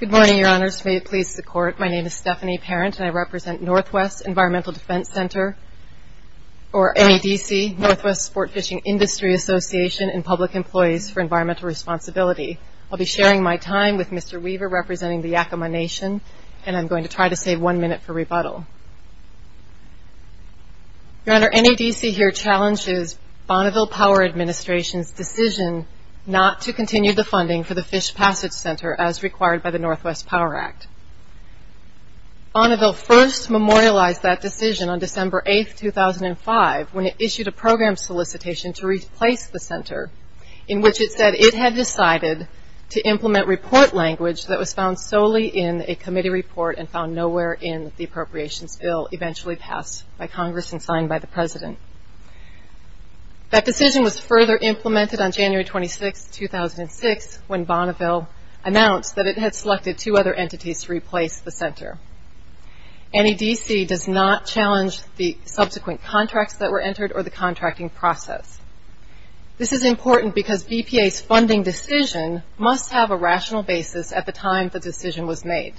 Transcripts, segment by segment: Good morning, Your Honors. May it please the Court, my name is Stephanie Parent and I represent Northwest Environmental Defense Center, or NEDC, Northwest Sport Fishing Industry Association and Public Employees for Environmental Responsibility. I'll be sharing my time with Mr. Weaver representing the Yakama Nation and I'm going to try to save one minute for rebuttal. Your Honor, NEDC here challenges Bonneville Power Administration's decision not to continue the funding for the Fish Passage Center as required by the Northwest Power Act. Bonneville first memorialized that decision on December 8, 2005 when it issued a program solicitation to replace the center in which it said it had decided to implement report language that was found nowhere in the appropriations bill eventually passed by Congress and signed by the President. That decision was further implemented on January 26, 2006 when Bonneville announced that it had selected two other entities to replace the center. NEDC does not challenge the subsequent contracts that were entered or the contracting process. This is important because BPA's funding decision must have a rational basis at the time the decision was made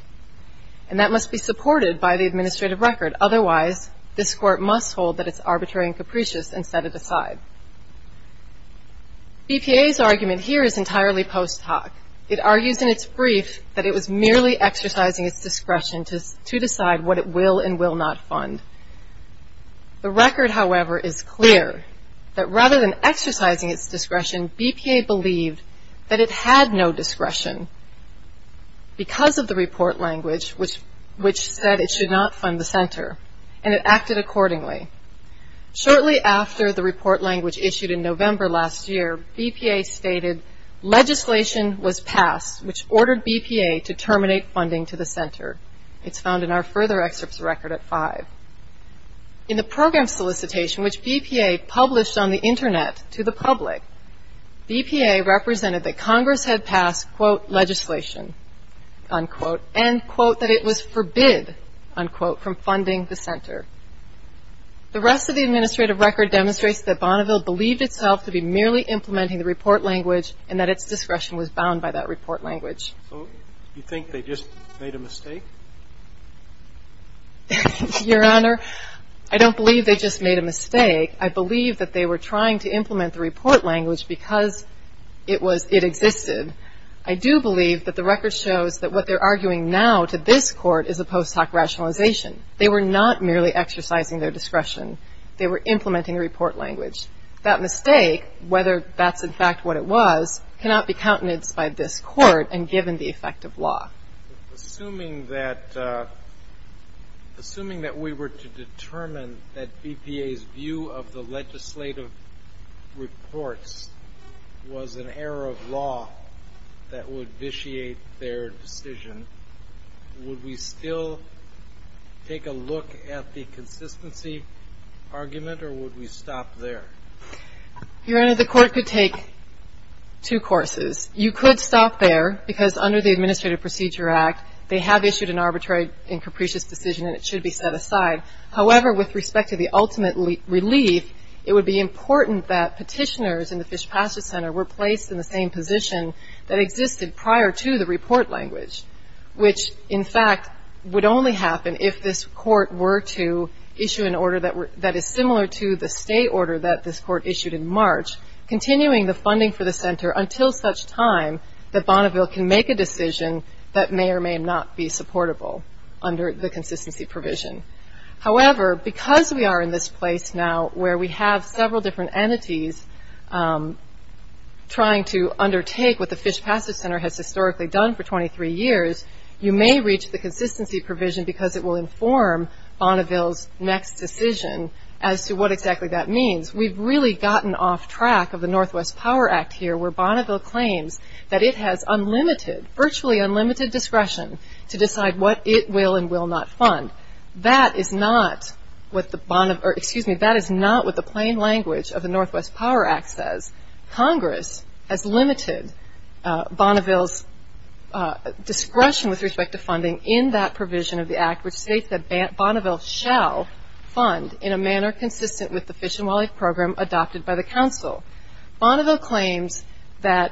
and must be supported by the administrative record. Otherwise, this Court must hold that it's arbitrary and capricious and set it aside. BPA's argument here is entirely post hoc. It argues in its brief that it was merely exercising its discretion to decide what it will and will not fund. The record, however, is clear that rather than exercising its discretion, BPA believed that it had no discretion because of the report language which said it should not fund the center and it acted accordingly. Shortly after the report language issued in November last year, BPA stated legislation was passed which ordered BPA to terminate funding to the center. It's found in our further excerpts record at 5. In the program solicitation which BPA published on the Internet to the public, BPA represented that Congress had passed, quote, legislation, unquote, and, quote, that it was forbid, unquote, from funding the center. The rest of the administrative record demonstrates that Bonneville believed itself to be merely implementing the report language and that its discretion was bound by that report language. So you think they just made a mistake? Your Honor, I don't believe they just made a mistake. I believe that they were trying to implement the report language because it was – it existed. I do believe that the record shows that what they're arguing now to this Court is a post hoc rationalization. They were not merely exercising their discretion. They were implementing the report language. That mistake, whether that's in fact what it was, cannot be countenanced by this Court and given the effect of law. Assuming that – assuming that we were to determine that BPA's view of the legislative reports was an error of law that would vitiate their decision, would we still take a look at the consistency argument or would we stop there? Your Honor, the Court could take two courses. You could stop there because under the Administrative Procedure Act, they have issued an arbitrary and capricious decision and it should be set aside. However, with respect to the ultimate relief, it would be important that petitioners in the Fish Passage Center were placed in the same position that existed prior to the report language, which in fact would only happen if this Court were to issue an order that is similar to the state order that this Court issued in March, continuing the funding for the Center until such time that Bonneville can make a decision that may or may not be supportable under the consistency provision. However, because we are in this place now where we have several different entities trying to undertake what the Fish Passage Center has historically done for 23 years, you may reach the consistency provision because it will inform Bonneville's next decision as to what exactly that means. We've really gotten off track of the Northwest Power Act here where Bonneville claims that it has unlimited, virtually unlimited discretion to decide what it will and will not fund. That is not what the plain language of the Northwest Power Act says. Congress has limited Bonneville's discretion with respect to funding in that provision of the Act, which states that Bonneville shall fund in a manner consistent with the Fish and Wildlife Program adopted by the Council. Bonneville claims that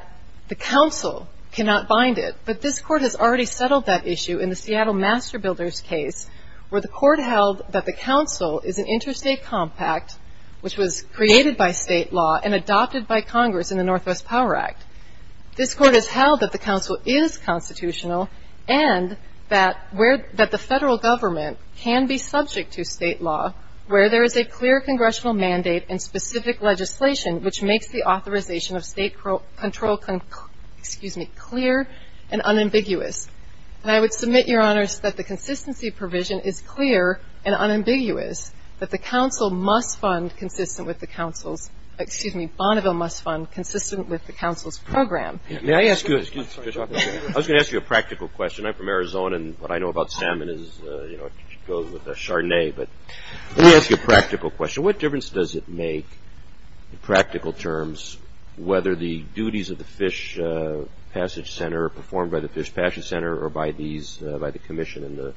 the Council cannot bind it, but this Court has already settled that issue in the Seattle Master Builders case where the Court held that the Council is an interstate compact, which was created by state law and adopted by Congress in the Northwest Power Act. This Court has held that the Council is constitutional and that the Federal Government can be subject to state law where there is a clear congressional mandate and specific legislation which makes the authorization of state control clear and unambiguous. And I would submit, Your Honors, that the consistency of Bonneville must fund consistent with the Council's program. May I ask you a practical question? I'm from Arizona and what I know about salmon is it goes with a chardonnay, but let me ask you a practical question. What difference does it make, in practical terms, whether the duties of the Fish Passage Center are performed by the Fish Passage Center or by the Commission in the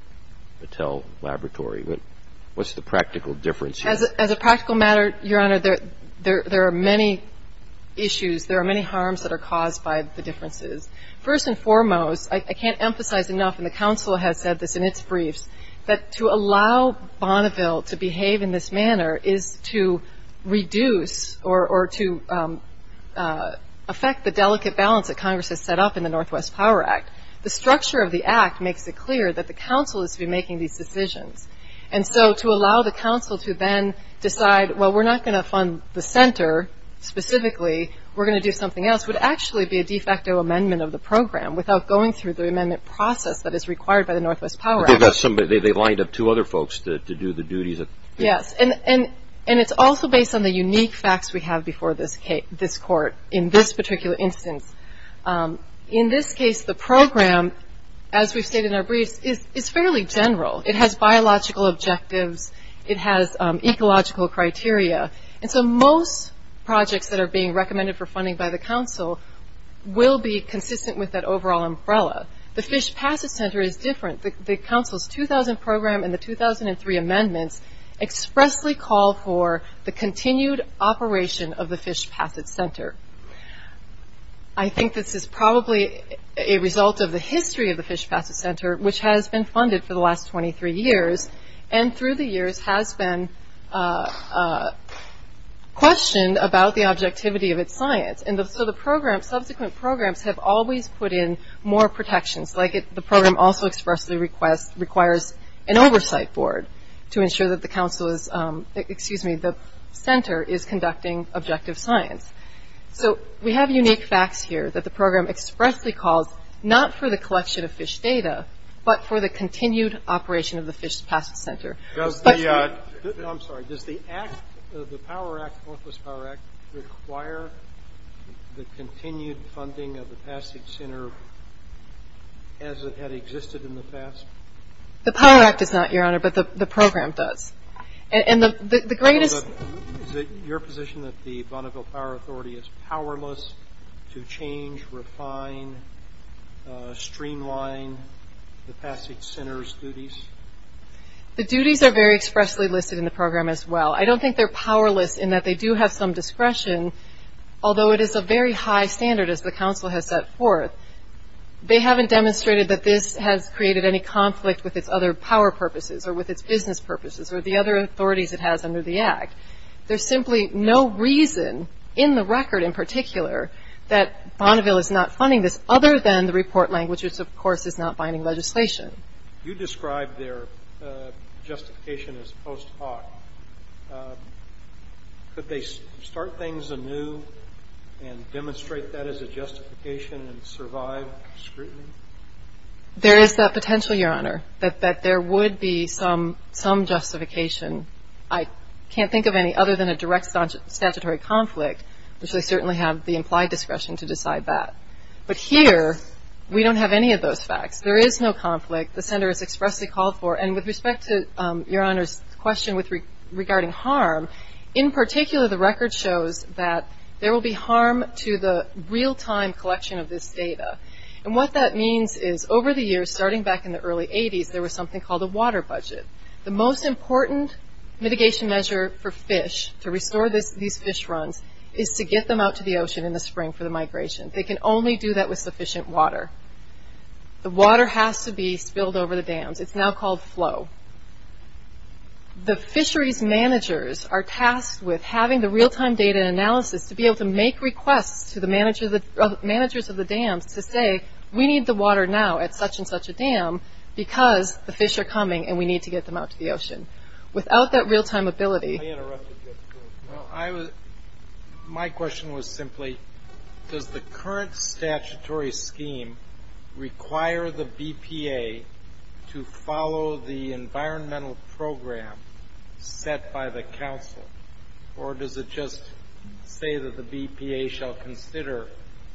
Patel Laboratory? What's the practical difference here? As a practical matter, Your Honor, there are many issues. There are many harms that are caused by the differences. First and foremost, I can't emphasize enough, and the Council has said this in its briefs, that to allow Bonneville to behave in this manner is to reduce or to affect the delicate balance that Congress has set up in the Northwest Power Act. The structure of the Act makes it clear that the Council is to be making these decisions. And so, to allow the Council to then decide, well, we're not going to fund the Center specifically, we're going to do something else, would actually be a de facto amendment of the program without going through the amendment process that is required by the Northwest Power Act. But they've got somebody, they've lined up two other folks to do the duties of the... Yes, and it's also based on the unique facts we have before this Court in this particular instance. In this case, the program, as we've stated in our briefs, is fairly general. It has biological objectives, it has ecological criteria, and so most projects that are being recommended for funding by the Council will be consistent with that overall umbrella. The Fish Passage Center is different. The Council's 2000 program and the 2003 amendments expressly call for the continued operation of the Fish Passage Center. I think this is probably a result of the history of the Fish Passage Center, which has been funded for the last 23 years, and through the years has been questioned about the objectivity of its science. And so the program, subsequent programs, have always put in more protections. The program also expressly requires an oversight board to ensure that the Center is conducting objective science. So we have unique facts here that the program expressly calls not for the collection of fish data, but for the continued operation of the Fish Passage Center. I'm sorry, does the Act, the Power Act, the Northwest Power Act, require the continued funding of the Passage Center as it had existed in the past? The Power Act does not, Your Honor, but the program does. And the greatest... Is it your position that the Bonneville Power Authority is powerless to change, refine, streamline the Passage Center's duties? The duties are very expressly listed in the program as well. I don't think they're powerless in that they do have some discretion, although it is a very high standard as the Council has set forth. They haven't demonstrated that this has created any conflict with its other power purposes or with its business purposes or the other authorities it has under the Act. There's simply no reason in the record in particular that Bonneville is not funding this other than the report language, which of course is not binding legislation. You described their justification as post hoc. Could they start things anew and demonstrate that as a justification and survive scrutiny? There is that potential, Your Honor, that there would be some justification. I can't think of any other than a direct statutory conflict, which they certainly have the implied discretion to decide that. But here, we don't have any of those facts. There is no conflict. The Center is expressly called for. And with respect to Your Honor's question regarding harm, in particular the record shows that there will be harm to the real-time collection of this data. And what that means is over the years, starting back in the early 80s, there was something called a water budget. The most important mitigation measure for restoring these fish runs is to get them out to the ocean in the spring for the migration. They can only do that with sufficient water. The water has to be spilled over the dams. It's now called flow. The fisheries managers are tasked with having the real-time data analysis to be able to make requests to the managers of the dams to say, we need the water now at such and such a dam because the fish are coming and we need to get them out to the ocean. Without that real-time ability... I interrupted you. My question was simply, does the current statutory scheme require the BPA to follow the environmental program set by the council? Or does it just say that the BPA shall consider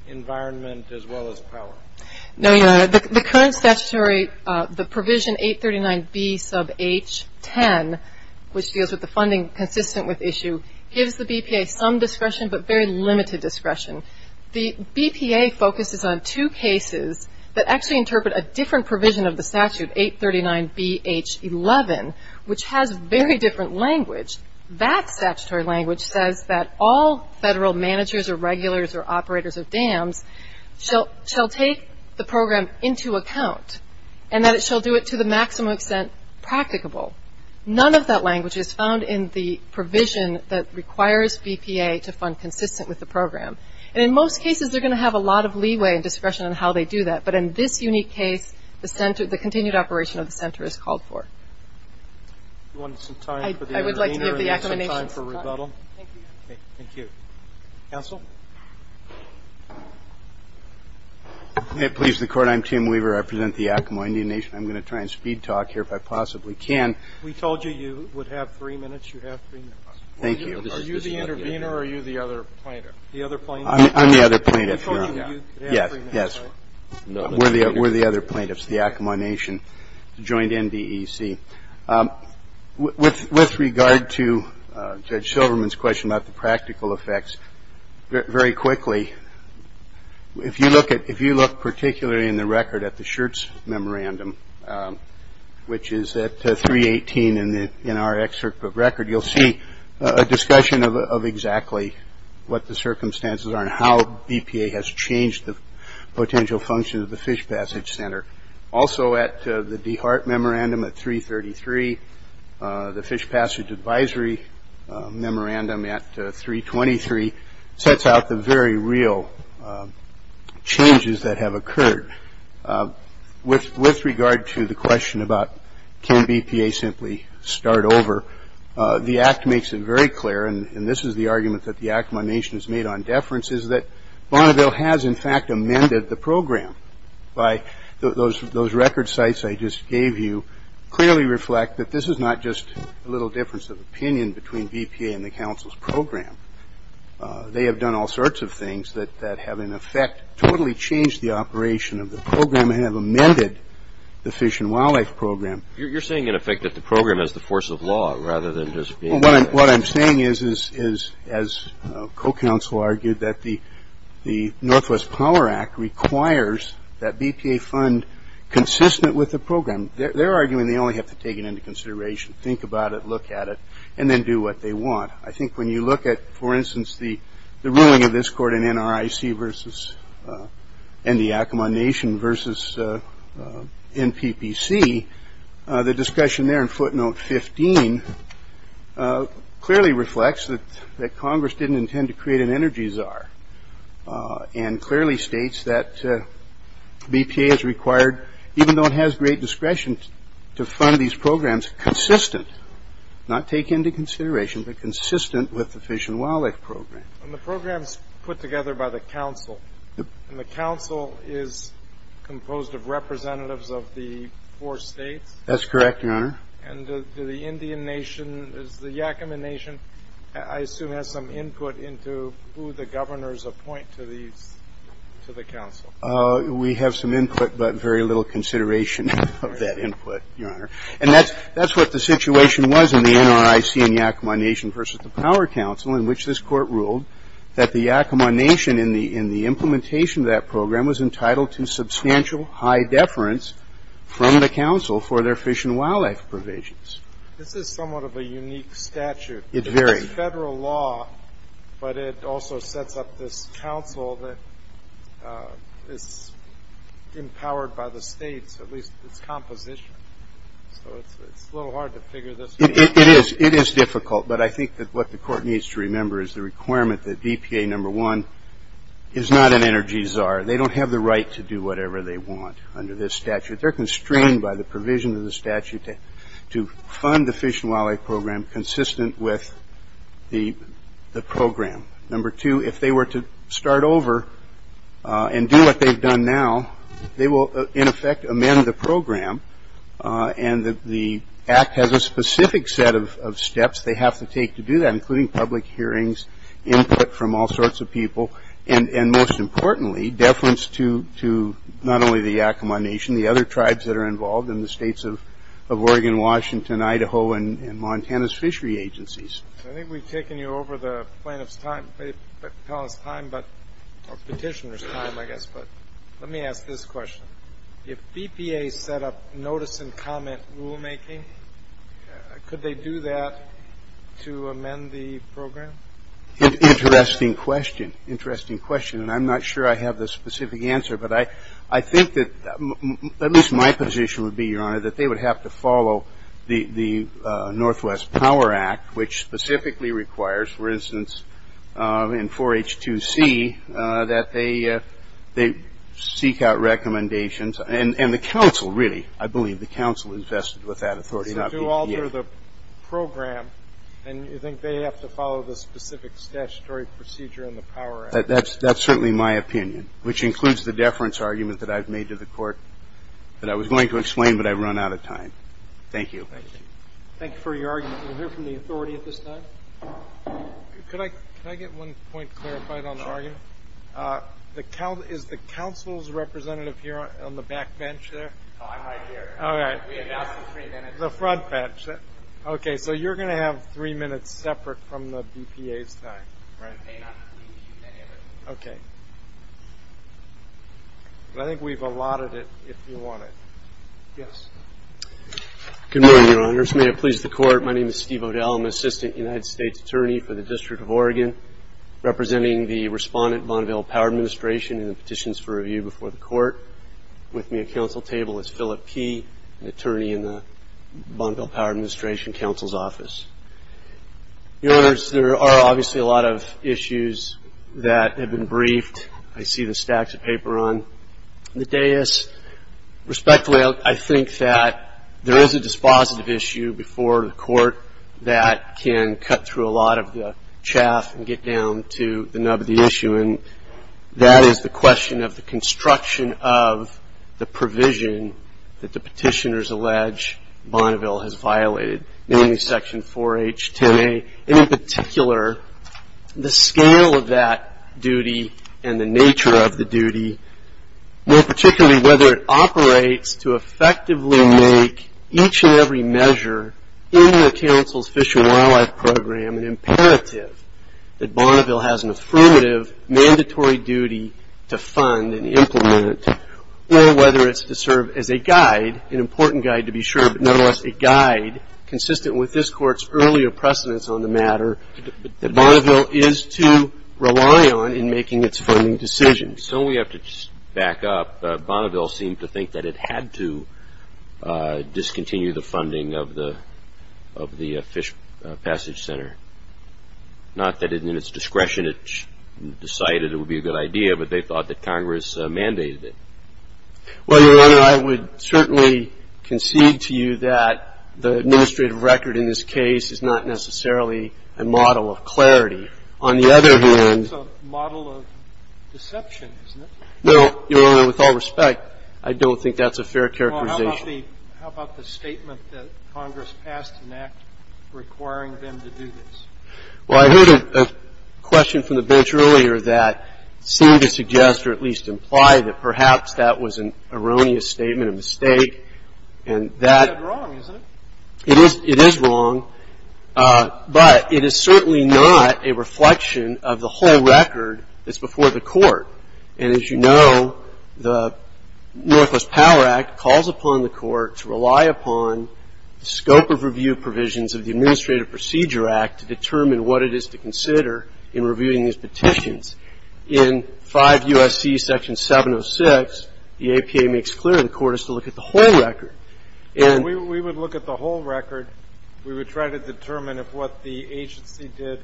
environment as well as power? No, the current statutory, the provision 839B sub H10, which deals with the funding consistent with issue, gives the BPA some discretion but very limited discretion. The BPA focuses on two cases that actually interpret a different provision of the statute, 839BH11, which has very different language. That statutory language says that all federal managers or regulars or operators of dams shall take the program into account and that it shall do it to the maximum extent practicable. None of that language is found in the provision that requires BPA to fund consistent with the program. In most cases, they're going to have a lot of leeway and discretion on how they do that, but in this unique case, the continued operation of the center is called for. Do you want some time for the intervener and some time for rebuttal? Thank you. Okay. Thank you. Counsel? May it please the Court. I'm Tim Weaver. I represent the Yakamaw Indian Nation. I'm going to try and speed talk here if I possibly can. We told you you would have three minutes. You have three minutes. Thank you. Are you the intervener or are you the other plaintiff? The other plaintiff. I'm the other plaintiff, Your Honor. We told you you could have three minutes, right? Yes. Yes. We're the other plaintiffs, the Yakamaw Nation, the joint NBEC. With regard to Judge Silverman's question about the practical effects, very quickly, if you look particularly in the record at the Schertz Memorandum, which is at 318 in our excerpt of record, you'll see a discussion of exactly what the circumstances are and how BPA has changed the potential function of the Fish Passage Center. Also at the DeHart Memorandum at 333, the Fish Passage Advisory Memorandum at 323, sets out the very real changes that have occurred. With regard to the question about can BPA simply start over, the Act makes it very clear, and this is the argument that the Yakamaw Nation has made on deference, is that Bonneville has, in fact, amended the program. Those record sites I just gave you clearly reflect that this is not just a little difference of opinion between BPA and the Council's program. They have done all sorts of things that have, in effect, totally changed the operation of the program and have amended the Fish and Wildlife Program. You're saying, in effect, that the program is the force of law, rather than just being a... What I'm saying is, as co-counsel argued, that the Northwest Power Act requires that BPA fund consistent with the program. They're arguing they only have to take it into consideration, think about it, look at it, and then do what they want. I think when you look at, for instance, the ruling of this court in NRIC versus, and the Yakamaw Nation versus NPPC, the discussion there in footnote 15 clearly reflects that Congress didn't intend to create an energy czar and clearly states that BPA is required, even though it has great discretion, to fund these programs consistent, not take into consideration, but consistent with the Fish and Wildlife Program. And the program's put together by the council, and the council is composed of representatives of the four states? That's correct, Your Honor. And the Indian Nation, the Yakama Nation, I assume has some input into who the governors appoint to the council. We have some input, but very little consideration of that input, Your Honor. And that's what the situation was in the NRIC and Yakama Nation versus the Power Council, in which this court ruled that the Yakama Nation in the implementation of that program was entitled to substantial high deference from the council for their fish and wildlife provisions. This is somewhat of a unique statute. It varies. It's federal law, but it also sets up this council that is empowered by the states, at least its composition. So it's a little hard to figure this one out. It is. It is difficult. But I think that what the court needs to remember is the requirement that DPA number one is not an energy czar. They don't have the right to do whatever they want under this statute. They're constrained by the provision of the statute to fund the Fish and Wildlife Program consistent with the program. Number two, if they were to start over and do what they've done now, they will, in effect, amend the program. And the act has a specific set of steps they have to take to do that, including public hearings, input from all sorts of people, and, most importantly, deference to not only the Yakama Nation, the other tribes that are involved in the states of Oregon, Washington, Idaho, and Montana's fishery agencies. I think we've taken you over the plaintiff's time, or petitioner's time, I guess. But let me ask this question. If BPA set up notice and comment rulemaking, could they do that to amend the program? Interesting question. Interesting question. And I'm not sure I have the specific answer. But I think that at least my position would be, Your Honor, that they would have to follow the Northwest Power Act, which specifically requires, for instance, in 4H2C, that they seek out recommendations. And the council, really, I believe the council is vested with that authority. So to alter the program, and you think they have to follow the specific statutory procedure in the Power Act? That's certainly my opinion, which includes the deference argument that I've made to the Court that I was going to explain, but I've run out of time. Thank you. Thank you. Thank you for your argument. We'll hear from the authority at this time. Could I get one point clarified on the argument? Sure. Is the council's representative here on the back bench there? Oh, I'm right here. All right. We announced in three minutes. The front bench. Okay. So you're going to have three minutes separate from the BPA's time. Right. They may not be using any of it. Okay. But I think we've allotted it if you want it. Yes. Good morning, Your Honors. May it please the Court. My name is Steve O'Dell. I'm an assistant United States attorney for the District of Oregon, representing the respondent, Bonneville Power Administration, in the petitions for review before the Court. With me at council table is Philip P., an attorney in the Bonneville Power Administration Council's office. Your Honors, there are obviously a lot of issues that have been briefed. I see the stacks of paper on the dais. Respectfully, I think that there is a dispositive issue before the Court that can cut through a lot of the chaff and get down to the nub of the issue, and that is the question of the construction of the provision that the petitioners allege Bonneville has violated, namely Section 4H10A. In particular, the scale of that duty and the nature of the duty, more particularly whether it operates to effectively make each and every measure in the council's Fish and Wildlife Program an imperative that Bonneville has an affirmative mandatory duty to fund and implement, or whether it's to serve as a guide, an important guide to be sure, but nonetheless a guide consistent with this Court's earlier precedence on the matter, that Bonneville is to rely on in making its funding decisions. So we have to back up. Bonneville seemed to think that it had to discontinue the funding of the Fish Passage Center. Not that in its discretion it decided it would be a good idea, but they thought that Congress mandated it. Well, Your Honor, I would certainly concede to you that the administrative record in this case is not necessarily a model of clarity. On the other hand, It's a model of deception, isn't it? No, Your Honor. With all respect, I don't think that's a fair characterization. Well, how about the statement that Congress passed an act requiring them to do this? Well, I heard a question from the bench earlier that seemed to suggest or at least imply that perhaps that was an erroneous statement, a mistake, and that That's wrong, isn't it? It is wrong, but it is certainly not a reflection of the whole record that's before the court. And as you know, the Northwest Power Act calls upon the court to rely upon the scope of review provisions of the Administrative Procedure Act to determine what it is to consider in reviewing these petitions. In 5 U.S.C. Section 706, the APA makes clear the court is to look at the whole record. And we would look at the whole record. We would try to determine if what the agency did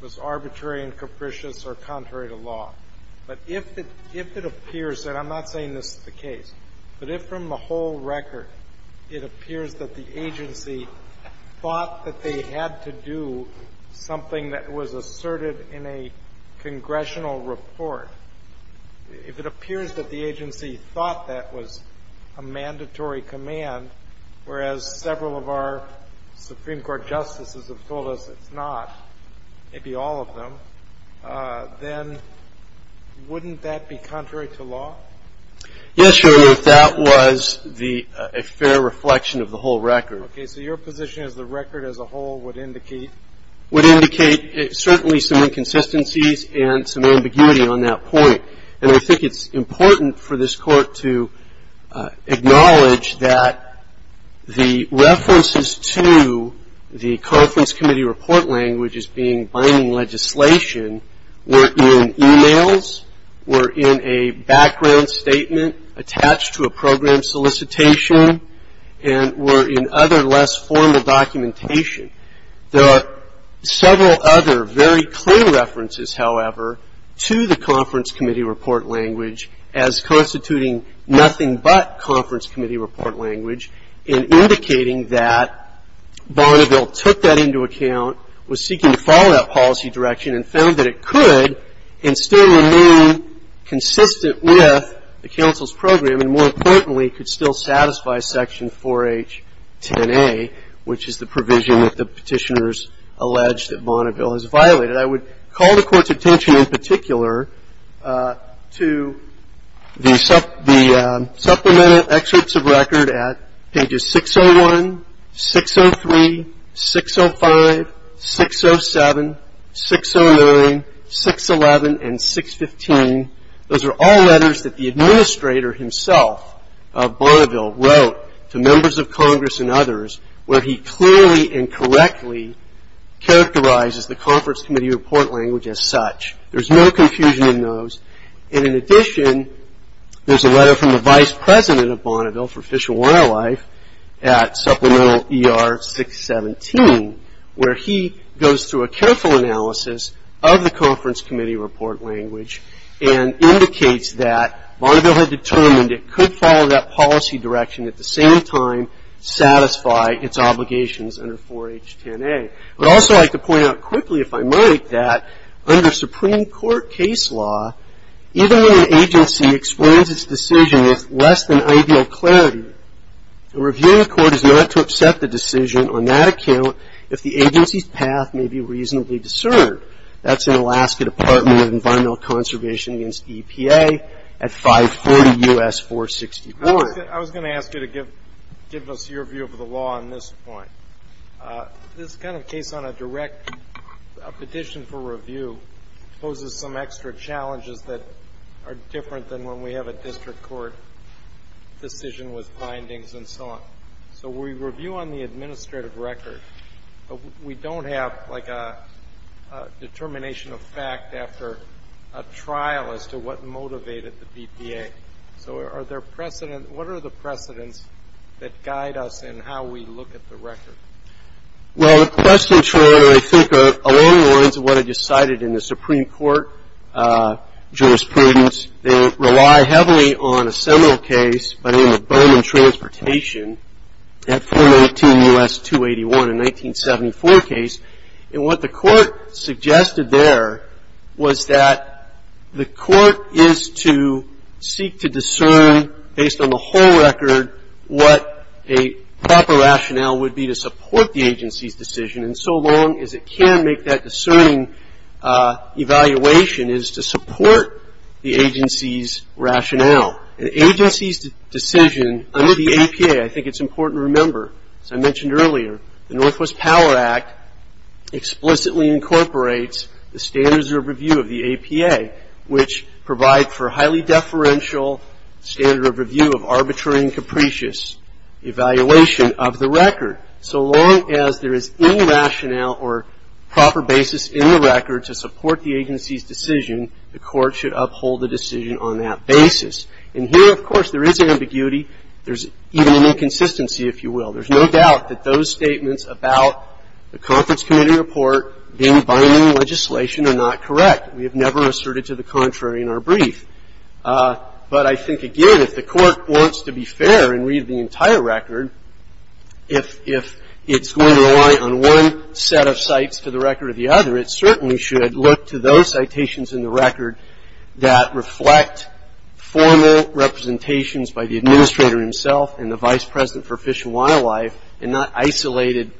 was arbitrary and capricious or contrary to law. But if it appears, and I'm not saying this is the case, but if from the whole record it appears that the agency thought that they had to do something that was asserted in a congressional report, if it appears that the agency thought that was a mandatory command, whereas several of our Supreme Court justices have told us it's not, maybe all of them, then wouldn't that be contrary to law? Yes, Your Honor, if that was a fair reflection of the whole record. Okay. So your position is the record as a whole would indicate certainly some inconsistencies and some ambiguity on that point. And I think it's important for this Court to acknowledge that the references to the conference committee report language as being binding legislation were in e-mails, were in a background statement attached to a program solicitation, and were in other less formal documentation. There are several other very clear references, however, to the conference committee report language as constituting nothing but conference committee report language and indicating that Bonneville took that into account, was seeking to follow that policy direction and found that it could and still remain consistent with the counsel's program and, more importantly, could still satisfy Section 4H10A, which is the provision that the Petitioners allege that Bonneville has violated. I would call the Court's attention in particular to the supplemented excerpts of record at pages 601, 603, 605, 607, 609, 611, and 615. Those are all letters that the administrator himself of Bonneville wrote to members of Congress and others where he clearly and correctly characterizes the conference committee report language as such. There's no confusion in those. And, in addition, there's a letter from the vice president of Bonneville for Fish and Wildlife at supplemental ER 617 where he goes through a careful analysis of the conference committee report language and indicates that Bonneville had determined it could follow that policy direction at the same time satisfy its obligations under 4H10A. I'd also like to point out quickly, if I might, that under Supreme Court case law, even when an agency explains its decision with less than ideal clarity, a reviewing court is not to upset the decision on that account if the agency's path may be reasonably discerned. That's in Alaska Department of Environmental Conservation against EPA at 540 U.S. 464. I was going to ask you to give us your view of the law on this point. This kind of case on a direct petition for review poses some extra challenges that are different than when we have a district court decision with findings and so on. So we review on the administrative record, but we don't have like a determination of fact after a trial as to what motivated the BPA. So what are the precedents that guide us in how we look at the record? Well, the precedents, I think, are along the lines of what I just cited in the Supreme Court jurisprudence. They rely heavily on a seminal case by the name of Bowman Transportation, that 419 U.S. 281 in 1974 case. And what the court suggested there was that the court is to seek to discern, based on the whole record, what a proper rationale would be to support the agency's decision, and so long as it can make that discerning evaluation is to support the agency's rationale. An agency's decision under the APA, I think it's important to remember, as I mentioned earlier, the Northwest Power Act explicitly incorporates the standards of review of the APA, which provide for highly deferential standard of review of arbitrary and capricious evaluation of the record. So long as there is any rationale or proper basis in the record to support the agency's decision, the court should uphold the decision on that basis. And here, of course, there is ambiguity. There's even an inconsistency, if you will. There's no doubt that those statements about the conference committee report being binding legislation are not correct. We have never asserted to the contrary in our brief. But I think, again, if the court wants to be fair and read the entire record, if it's going to rely on one set of cites for the record or the other, it certainly should look to those citations in the record that reflect formal representations by the administrator himself and the vice president for Fish and Wildlife and not isolated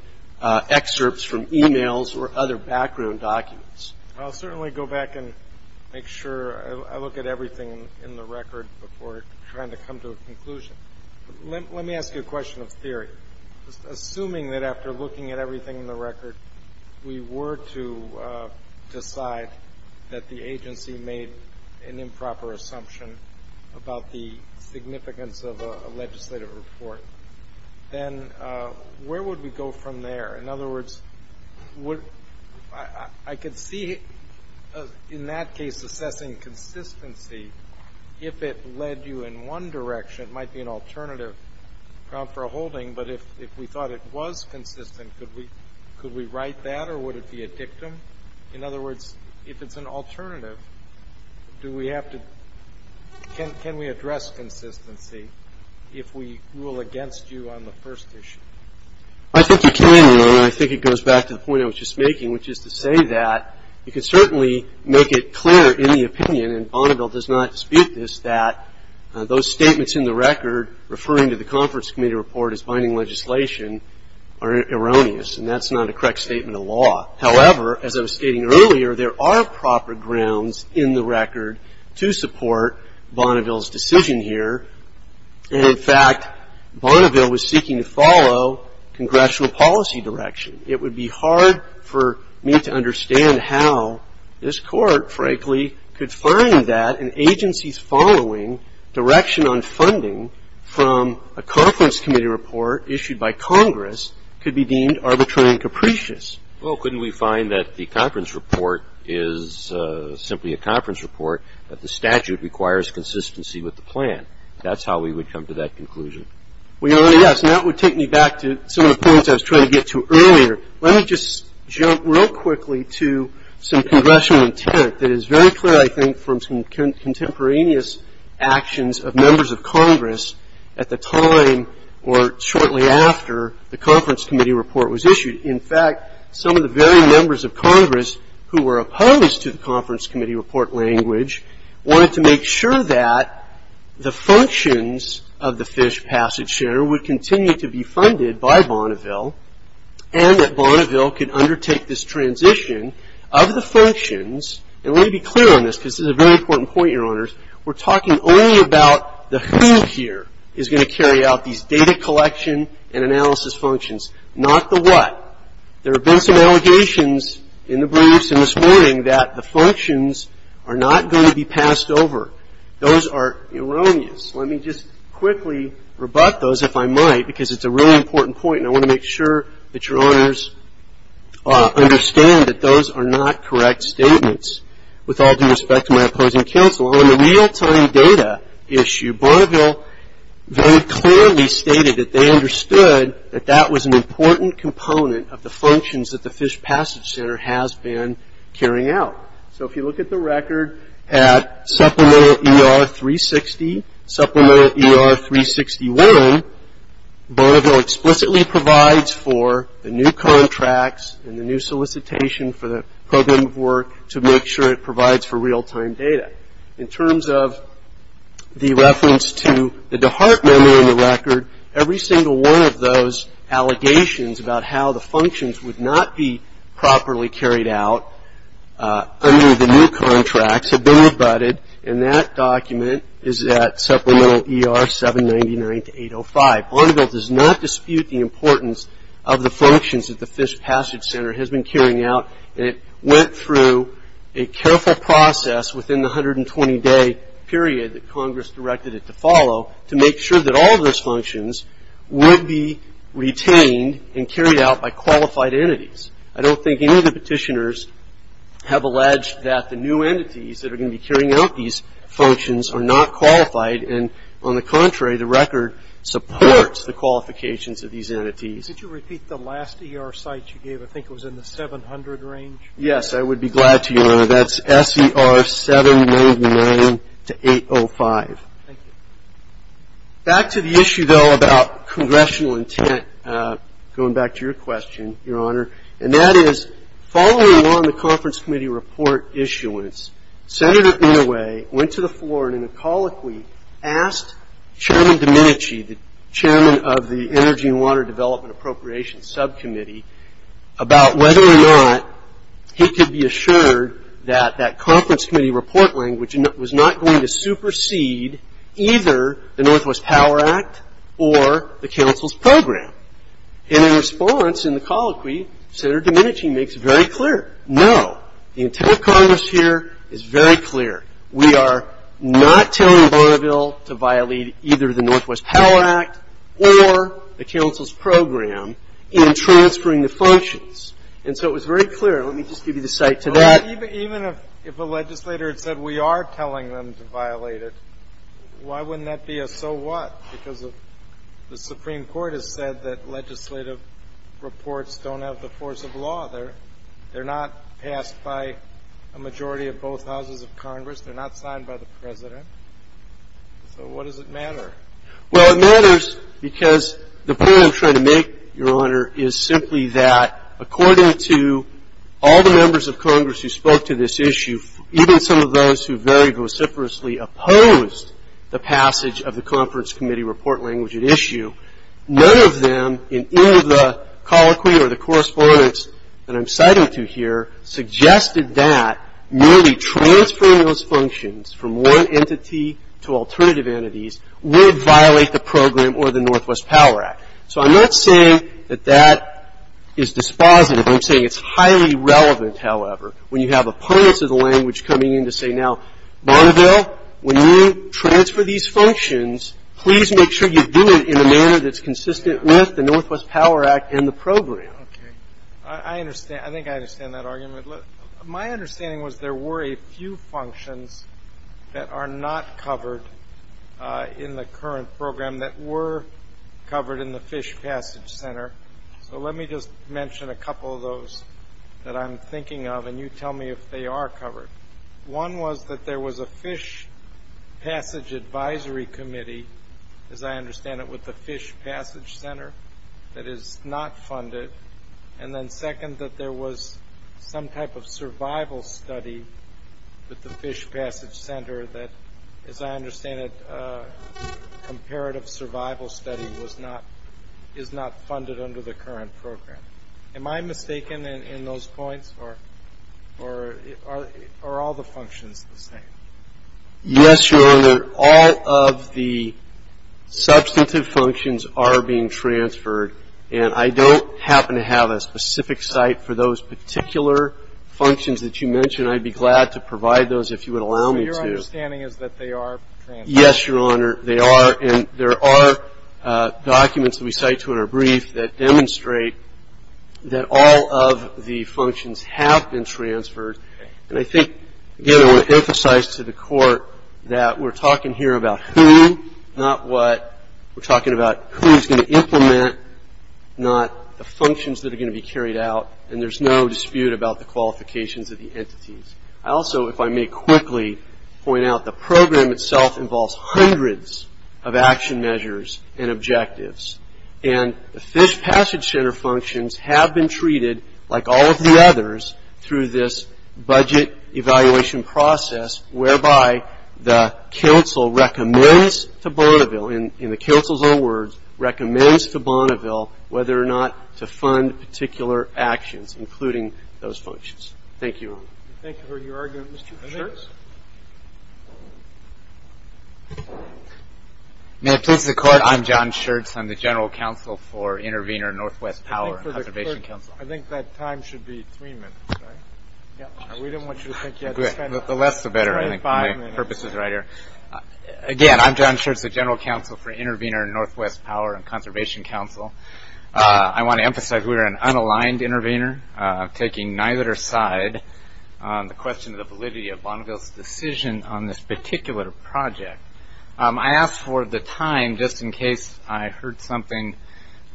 excerpts from e-mails or other background documents. I'll certainly go back and make sure I look at everything in the record before trying to come to a conclusion. Let me ask you a question of theory. Assuming that after looking at everything in the record, we were to decide that the agency made an improper assumption about the significance of a legislative report, then where would we go from there? In other words, I could see in that case assessing consistency if it led you in one direction. It might be an alternative ground for a holding, but if we thought it was consistent, could we write that or would it be a dictum? In other words, if it's an alternative, do we have to ‑‑ can we address consistency if we rule against you on the first issue? I think you can, and I think it goes back to the point I was just making, which is to say that you can certainly make it clear in the opinion, and Bonneville does not dispute this, that those statements in the record referring to the conference committee report as binding legislation are erroneous, and that's not a correct statement of law. However, as I was stating earlier, there are proper grounds in the record to support Bonneville's decision here, and in fact, Bonneville was seeking to follow congressional policy direction. It would be hard for me to understand how this Court, frankly, could find that an agency's following direction on funding from a conference committee report issued by Congress could be deemed arbitrary and capricious. Well, couldn't we find that the conference report is simply a conference report, but the statute requires consistency with the plan? That's how we would come to that conclusion. Well, Your Honor, yes, and that would take me back to some of the points I was trying to get to earlier. Let me just jump real quickly to some congressional intent that is very clear, I think, from some contemporaneous actions of members of Congress at the time or shortly after the conference committee report was issued. In fact, some of the very members of Congress who were opposed to the conference committee report language wanted to make sure that the functions of the Fish Passage Share would continue to be funded by Bonneville and that Bonneville could undertake this transition of the functions. And let me be clear on this because this is a very important point, Your Honors. We're talking only about the who here is going to carry out these data collection and analysis functions, not the what. There have been some allegations in the briefs and this morning that the functions are not going to be passed over. Those are erroneous. Let me just quickly rebut those, if I might, because it's a really important point and I want to make sure that Your Honors understand that those are not correct statements. With all due respect to my opposing counsel, on the real-time data issue, Bonneville very clearly stated that they understood that that was an important component of the functions that the Fish Passage Center has been carrying out. So if you look at the record at Supplemental ER 360, Supplemental ER 361, Bonneville explicitly provides for the new contracts and the new solicitation for the program of work to make sure it provides for real-time data. In terms of the reference to the DeHart memo in the record, every single one of those allegations about how the functions would not be properly carried out under the new contracts have been rebutted, and that document is at Supplemental ER 799-805. Bonneville does not dispute the importance of the functions that the Fish Passage Center has been carrying out. It went through a careful process within the 120-day period that Congress directed it to follow to make sure that all of those functions would be retained and carried out by qualified entities. I don't think any of the petitioners have alleged that the new entities that are going to be carrying out these functions are not qualified, and on the contrary, the record supports the qualifications of these entities. Could you repeat the last ER site you gave? I think it was in the 700 range. Yes, I would be glad to, Your Honor. That's SER 799-805. Thank you. Back to the issue, though, about congressional intent, going back to your question, Your Honor, and that is following along the conference committee report issuance, Senator Inouye went to the floor in a colic week, asked Chairman Domenici, the chairman of the Energy and Water Development Appropriations Subcommittee, about whether or not he could be assured that that conference committee report language was not going to supersede either the Northwest Power Act or the council's program. And in response, in the colic week, Senator Domenici makes very clear, no, the intent of Congress here is very clear. We are not telling Bonneville to violate either the Northwest Power Act or the council's program in transferring the functions. And so it was very clear. Let me just give you the site to that. Even if a legislator had said we are telling them to violate it, why wouldn't that be a so what? Because the Supreme Court has said that legislative reports don't have the force of law. They're not passed by a majority of both houses of Congress. They're not signed by the President. So what does it matter? Well, it matters because the point I'm trying to make, Your Honor, is simply that according to all the members of Congress who spoke to this issue, even some of those who very vociferously opposed the passage of the conference committee report language at issue, none of them in any of the colloquy or the correspondence that I'm citing to here suggested that merely transferring those functions from one entity to alternative entities would violate the program or the Northwest Power Act. So I'm not saying that that is dispositive. I'm saying it's highly relevant, however, when you have opponents of the language coming in to say, now, Bonneville, when you transfer these functions, please make sure you do it in a manner that's consistent with the Northwest Power Act and the program. Okay. I understand. I think I understand that argument. My understanding was there were a few functions that are not covered in the current program that were covered in the Fish Passage Center. So let me just mention a couple of those that I'm thinking of, and you tell me if they are covered. One was that there was a Fish Passage Advisory Committee, as I understand it, with the Fish Passage Center that is not funded. And then second, that there was some type of survival study with the Fish Passage Center that, as I understand it, comparative survival study is not funded under the current program. Am I mistaken in those points, or are all the functions the same? Yes, Your Honor. All of the substantive functions are being transferred, and I don't happen to have a specific site for those particular functions that you mentioned. I'd be glad to provide those if you would allow me to. So your understanding is that they are transferred? Yes, Your Honor. There are documents that we cite to in our brief that demonstrate that all of the functions have been transferred, and I think, again, I want to emphasize to the Court that we're talking here about who, not what, we're talking about who's going to implement, not the functions that are going to be carried out, I also, if I may quickly point out, the program itself involves hundreds of action measures and objectives, and the Fish Passage Center functions have been treated, like all of the others, through this budget evaluation process, whereby the Council recommends to Bonneville, in the Council's own words, recommends to Bonneville whether or not to fund particular actions, including those functions. Thank you. Thank you for your argument, Mr. Schertz. May it please the Court, I'm John Schertz, I'm the General Counsel for Intervenor Northwest Power and Conservation Council. I think that time should be three minutes, right? Yeah. We didn't want you to think you had to spend 25 minutes. The less the better, I think, for my purposes, right here. Again, I'm John Schertz, the General Counsel for Intervenor Northwest Power and Conservation Council. I want to emphasize we are an unaligned intervenor, taking neither side on the question of the validity of Bonneville's decision on this particular project. I asked for the time, just in case I heard something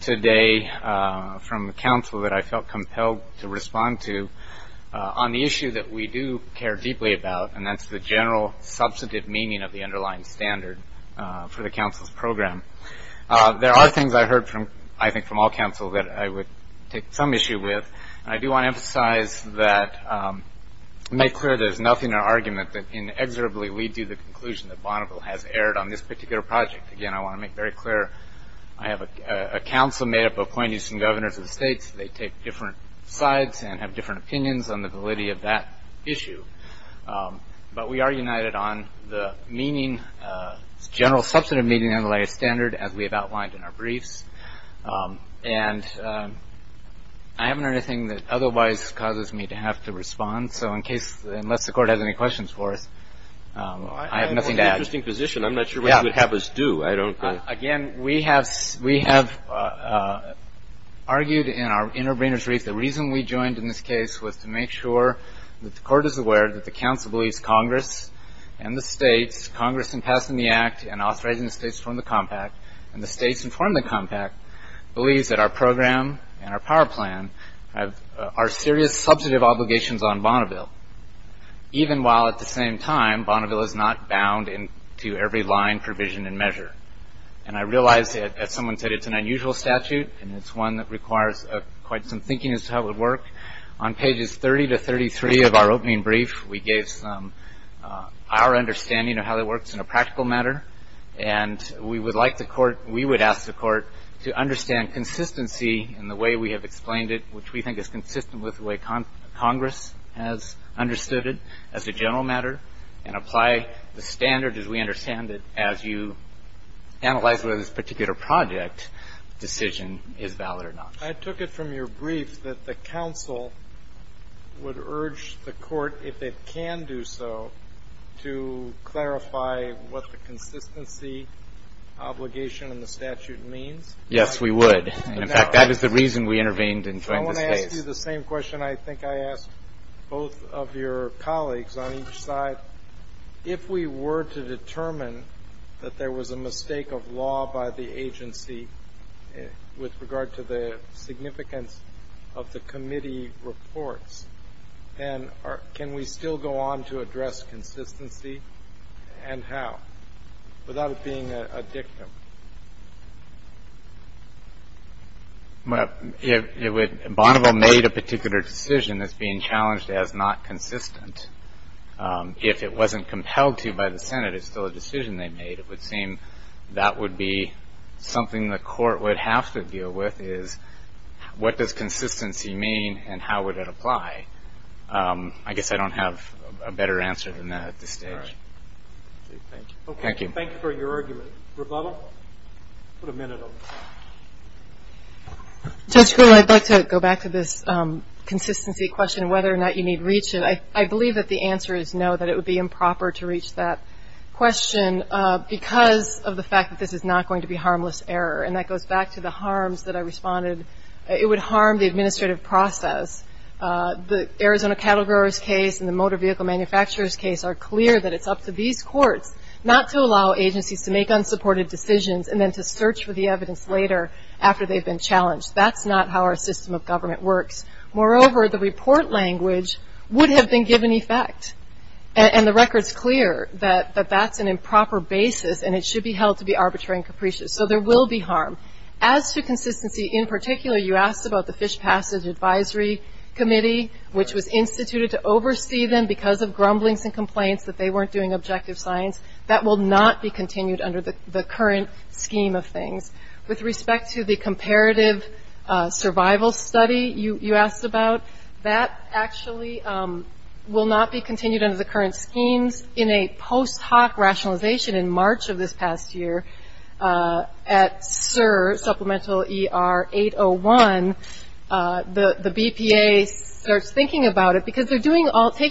today from the Council that I felt compelled to respond to, on the issue that we do care deeply about, and that's the general substantive meaning of the underlying standard for the Council's program. There are things I heard, I think, from all Councils that I would take some issue with. I do want to emphasize that, make clear there's nothing in our argument that inexorably we do the conclusion that Bonneville has erred on this particular project. Again, I want to make very clear I have a Council made up of appointees and governors of the states. They take different sides and have different opinions on the validity of that issue. But we are united on the general substantive meaning of the underlying standard, as we have outlined in our briefs. And I haven't heard anything that otherwise causes me to have to respond, so unless the Court has any questions for us, I have nothing to add. I'm in an interesting position. I'm not sure what you would have us do. Again, we have argued in our intervenor's brief, the reason we joined in this case was to make sure that the Court is aware that the Council believes Congress and the states, Congress in passing the Act and authorizing the states to form the compact, and the states to form the compact, believes that our program and our power plan are serious substantive obligations on Bonneville, even while at the same time Bonneville is not bound to every line, provision, and measure. And I realize that, as someone said, it's an unusual statute, and it's one that requires quite some thinking as to how it would work. On pages 30 to 33 of our opening brief, we gave some of our understanding of how it works in a practical matter. And we would like the Court, we would ask the Court to understand consistency in the way we have explained it, which we think is consistent with the way Congress has understood it as a general matter, and apply the standard as we understand it as you analyze whether this particular project decision is valid or not. I took it from your brief that the Council would urge the Court, if it can do so, to clarify what the consistency obligation in the statute means. Yes, we would. In fact, that is the reason we intervened and joined the states. Let me ask you the same question I think I asked both of your colleagues on each side. If we were to determine that there was a mistake of law by the agency with regard to the significance of the committee reports, then can we still go on to address consistency, and how, without it being a dictum? Bonneville made a particular decision that's being challenged as not consistent. If it wasn't compelled to by the Senate, it's still a decision they made. It would seem that would be something the Court would have to deal with is what does consistency mean and how would it apply. I guess I don't have a better answer than that at this stage. Thank you. Thank you. Thank you for your argument. Rebecca, put a minute on this. Judge Gould, I'd like to go back to this consistency question, whether or not you need to reach it. I believe that the answer is no, that it would be improper to reach that question because of the fact that this is not going to be harmless error. And that goes back to the harms that I responded. It would harm the administrative process. The Arizona cattle growers case and the motor vehicle manufacturers case are clear that it's up to these courts not to allow agencies to make unsupported decisions and then to search for the evidence later after they've been challenged. That's not how our system of government works. Moreover, the report language would have been given effect, and the record's clear that that's an improper basis and it should be held to be arbitrary and capricious. So there will be harm. As to consistency in particular, you asked about the Fish Passage Advisory Committee, which was instituted to oversee them because of grumblings and complaints that they weren't doing objective science. That will not be continued under the current scheme of things. With respect to the Comparative Survival Study you asked about, that actually will not be continued under the current schemes. In a post hoc rationalization in March of this past year at SUR, Supplemental ER 801, the BPA starts thinking about it because they're taking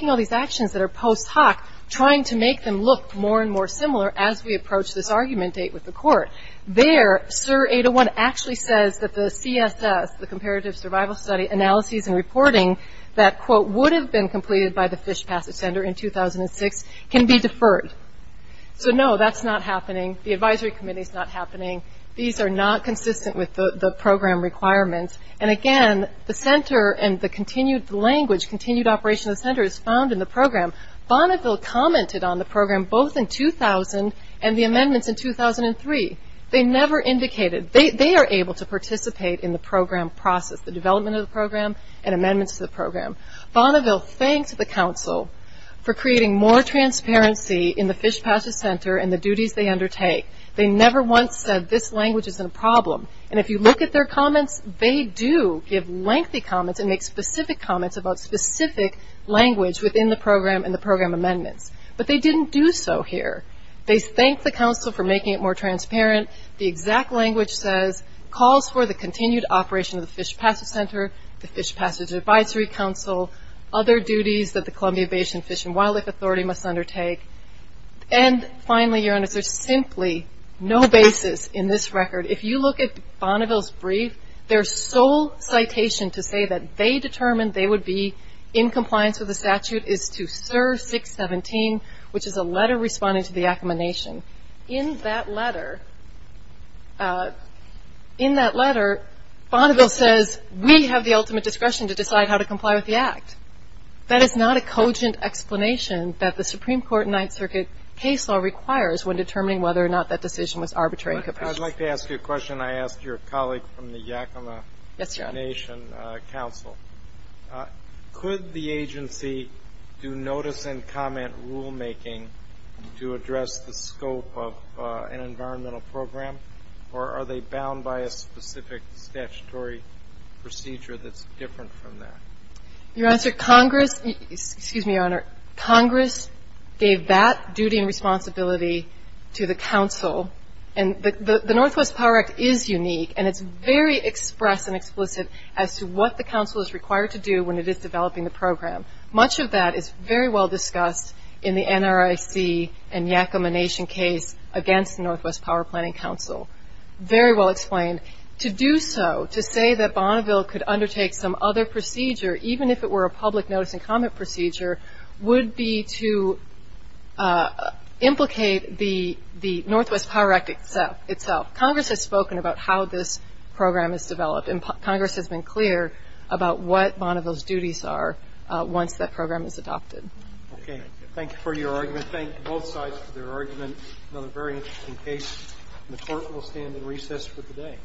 all these actions that are post hoc, trying to make them look more and more similar as we approach this argument date with the court. There, SUR 801 actually says that the CSS, the Comparative Survival Study, analyses and reporting, that quote, would have been completed by the Fish Passage Center in 2006, can be deferred. So no, that's not happening. The advisory committee's not happening. These are not consistent with the program requirements. And again, the center and the continued language, continued operation of the center is found in the program. Bonneville commented on the program both in 2000 and the amendments in 2003. They never indicated. They are able to participate in the program process, the development of the program and amendments to the program. Bonneville thanks the council for creating more transparency in the Fish Passage Center and the duties they undertake. They never once said this language is a problem. And if you look at their comments, they do give lengthy comments and make specific comments about specific language within the program and the program amendments. But they didn't do so here. They thank the council for making it more transparent. The exact language says, calls for the continued operation of the Fish Passage Center, the Fish Passage Advisory Council, other duties that the Columbia Basin Fish and Wildlife Authority must undertake. And finally, Your Honor, there's simply no basis in this record. If you look at Bonneville's brief, their sole citation to say that they determined they would be in compliance with the statute is to SIR 617, which is a letter responding to the accommodation. In that letter, in that letter, Bonneville says we have the ultimate discretion to decide how to comply with the act. That is not a cogent explanation that the Supreme Court in Ninth Circuit case law requires when determining whether or not that decision was arbitrary and capricious. I'd like to ask you a question I asked your colleague from the Yakima Nation Council. Could the agency do notice and comment rulemaking to address the scope of an environmental program, or are they bound by a specific statutory procedure that's different from that? Your Honor, Congress gave that duty and responsibility to the council. And the Northwest Power Act is unique, and it's very express and explicit as to what the council is required to do when it is developing the program. Much of that is very well discussed in the NRIC and Yakima Nation case against the Northwest Power Planning Council. Very well explained. To do so, to say that Bonneville could undertake some other procedure, even if it were a public notice and comment procedure, would be to implicate the Northwest Power Act itself. Congress has spoken about how this program is developed, and Congress has been clear about what Bonneville's duties are once that program is adopted. Okay. Thank you for your argument. Thank both sides for their argument. Another very interesting case, and the Court will stand in recess for today.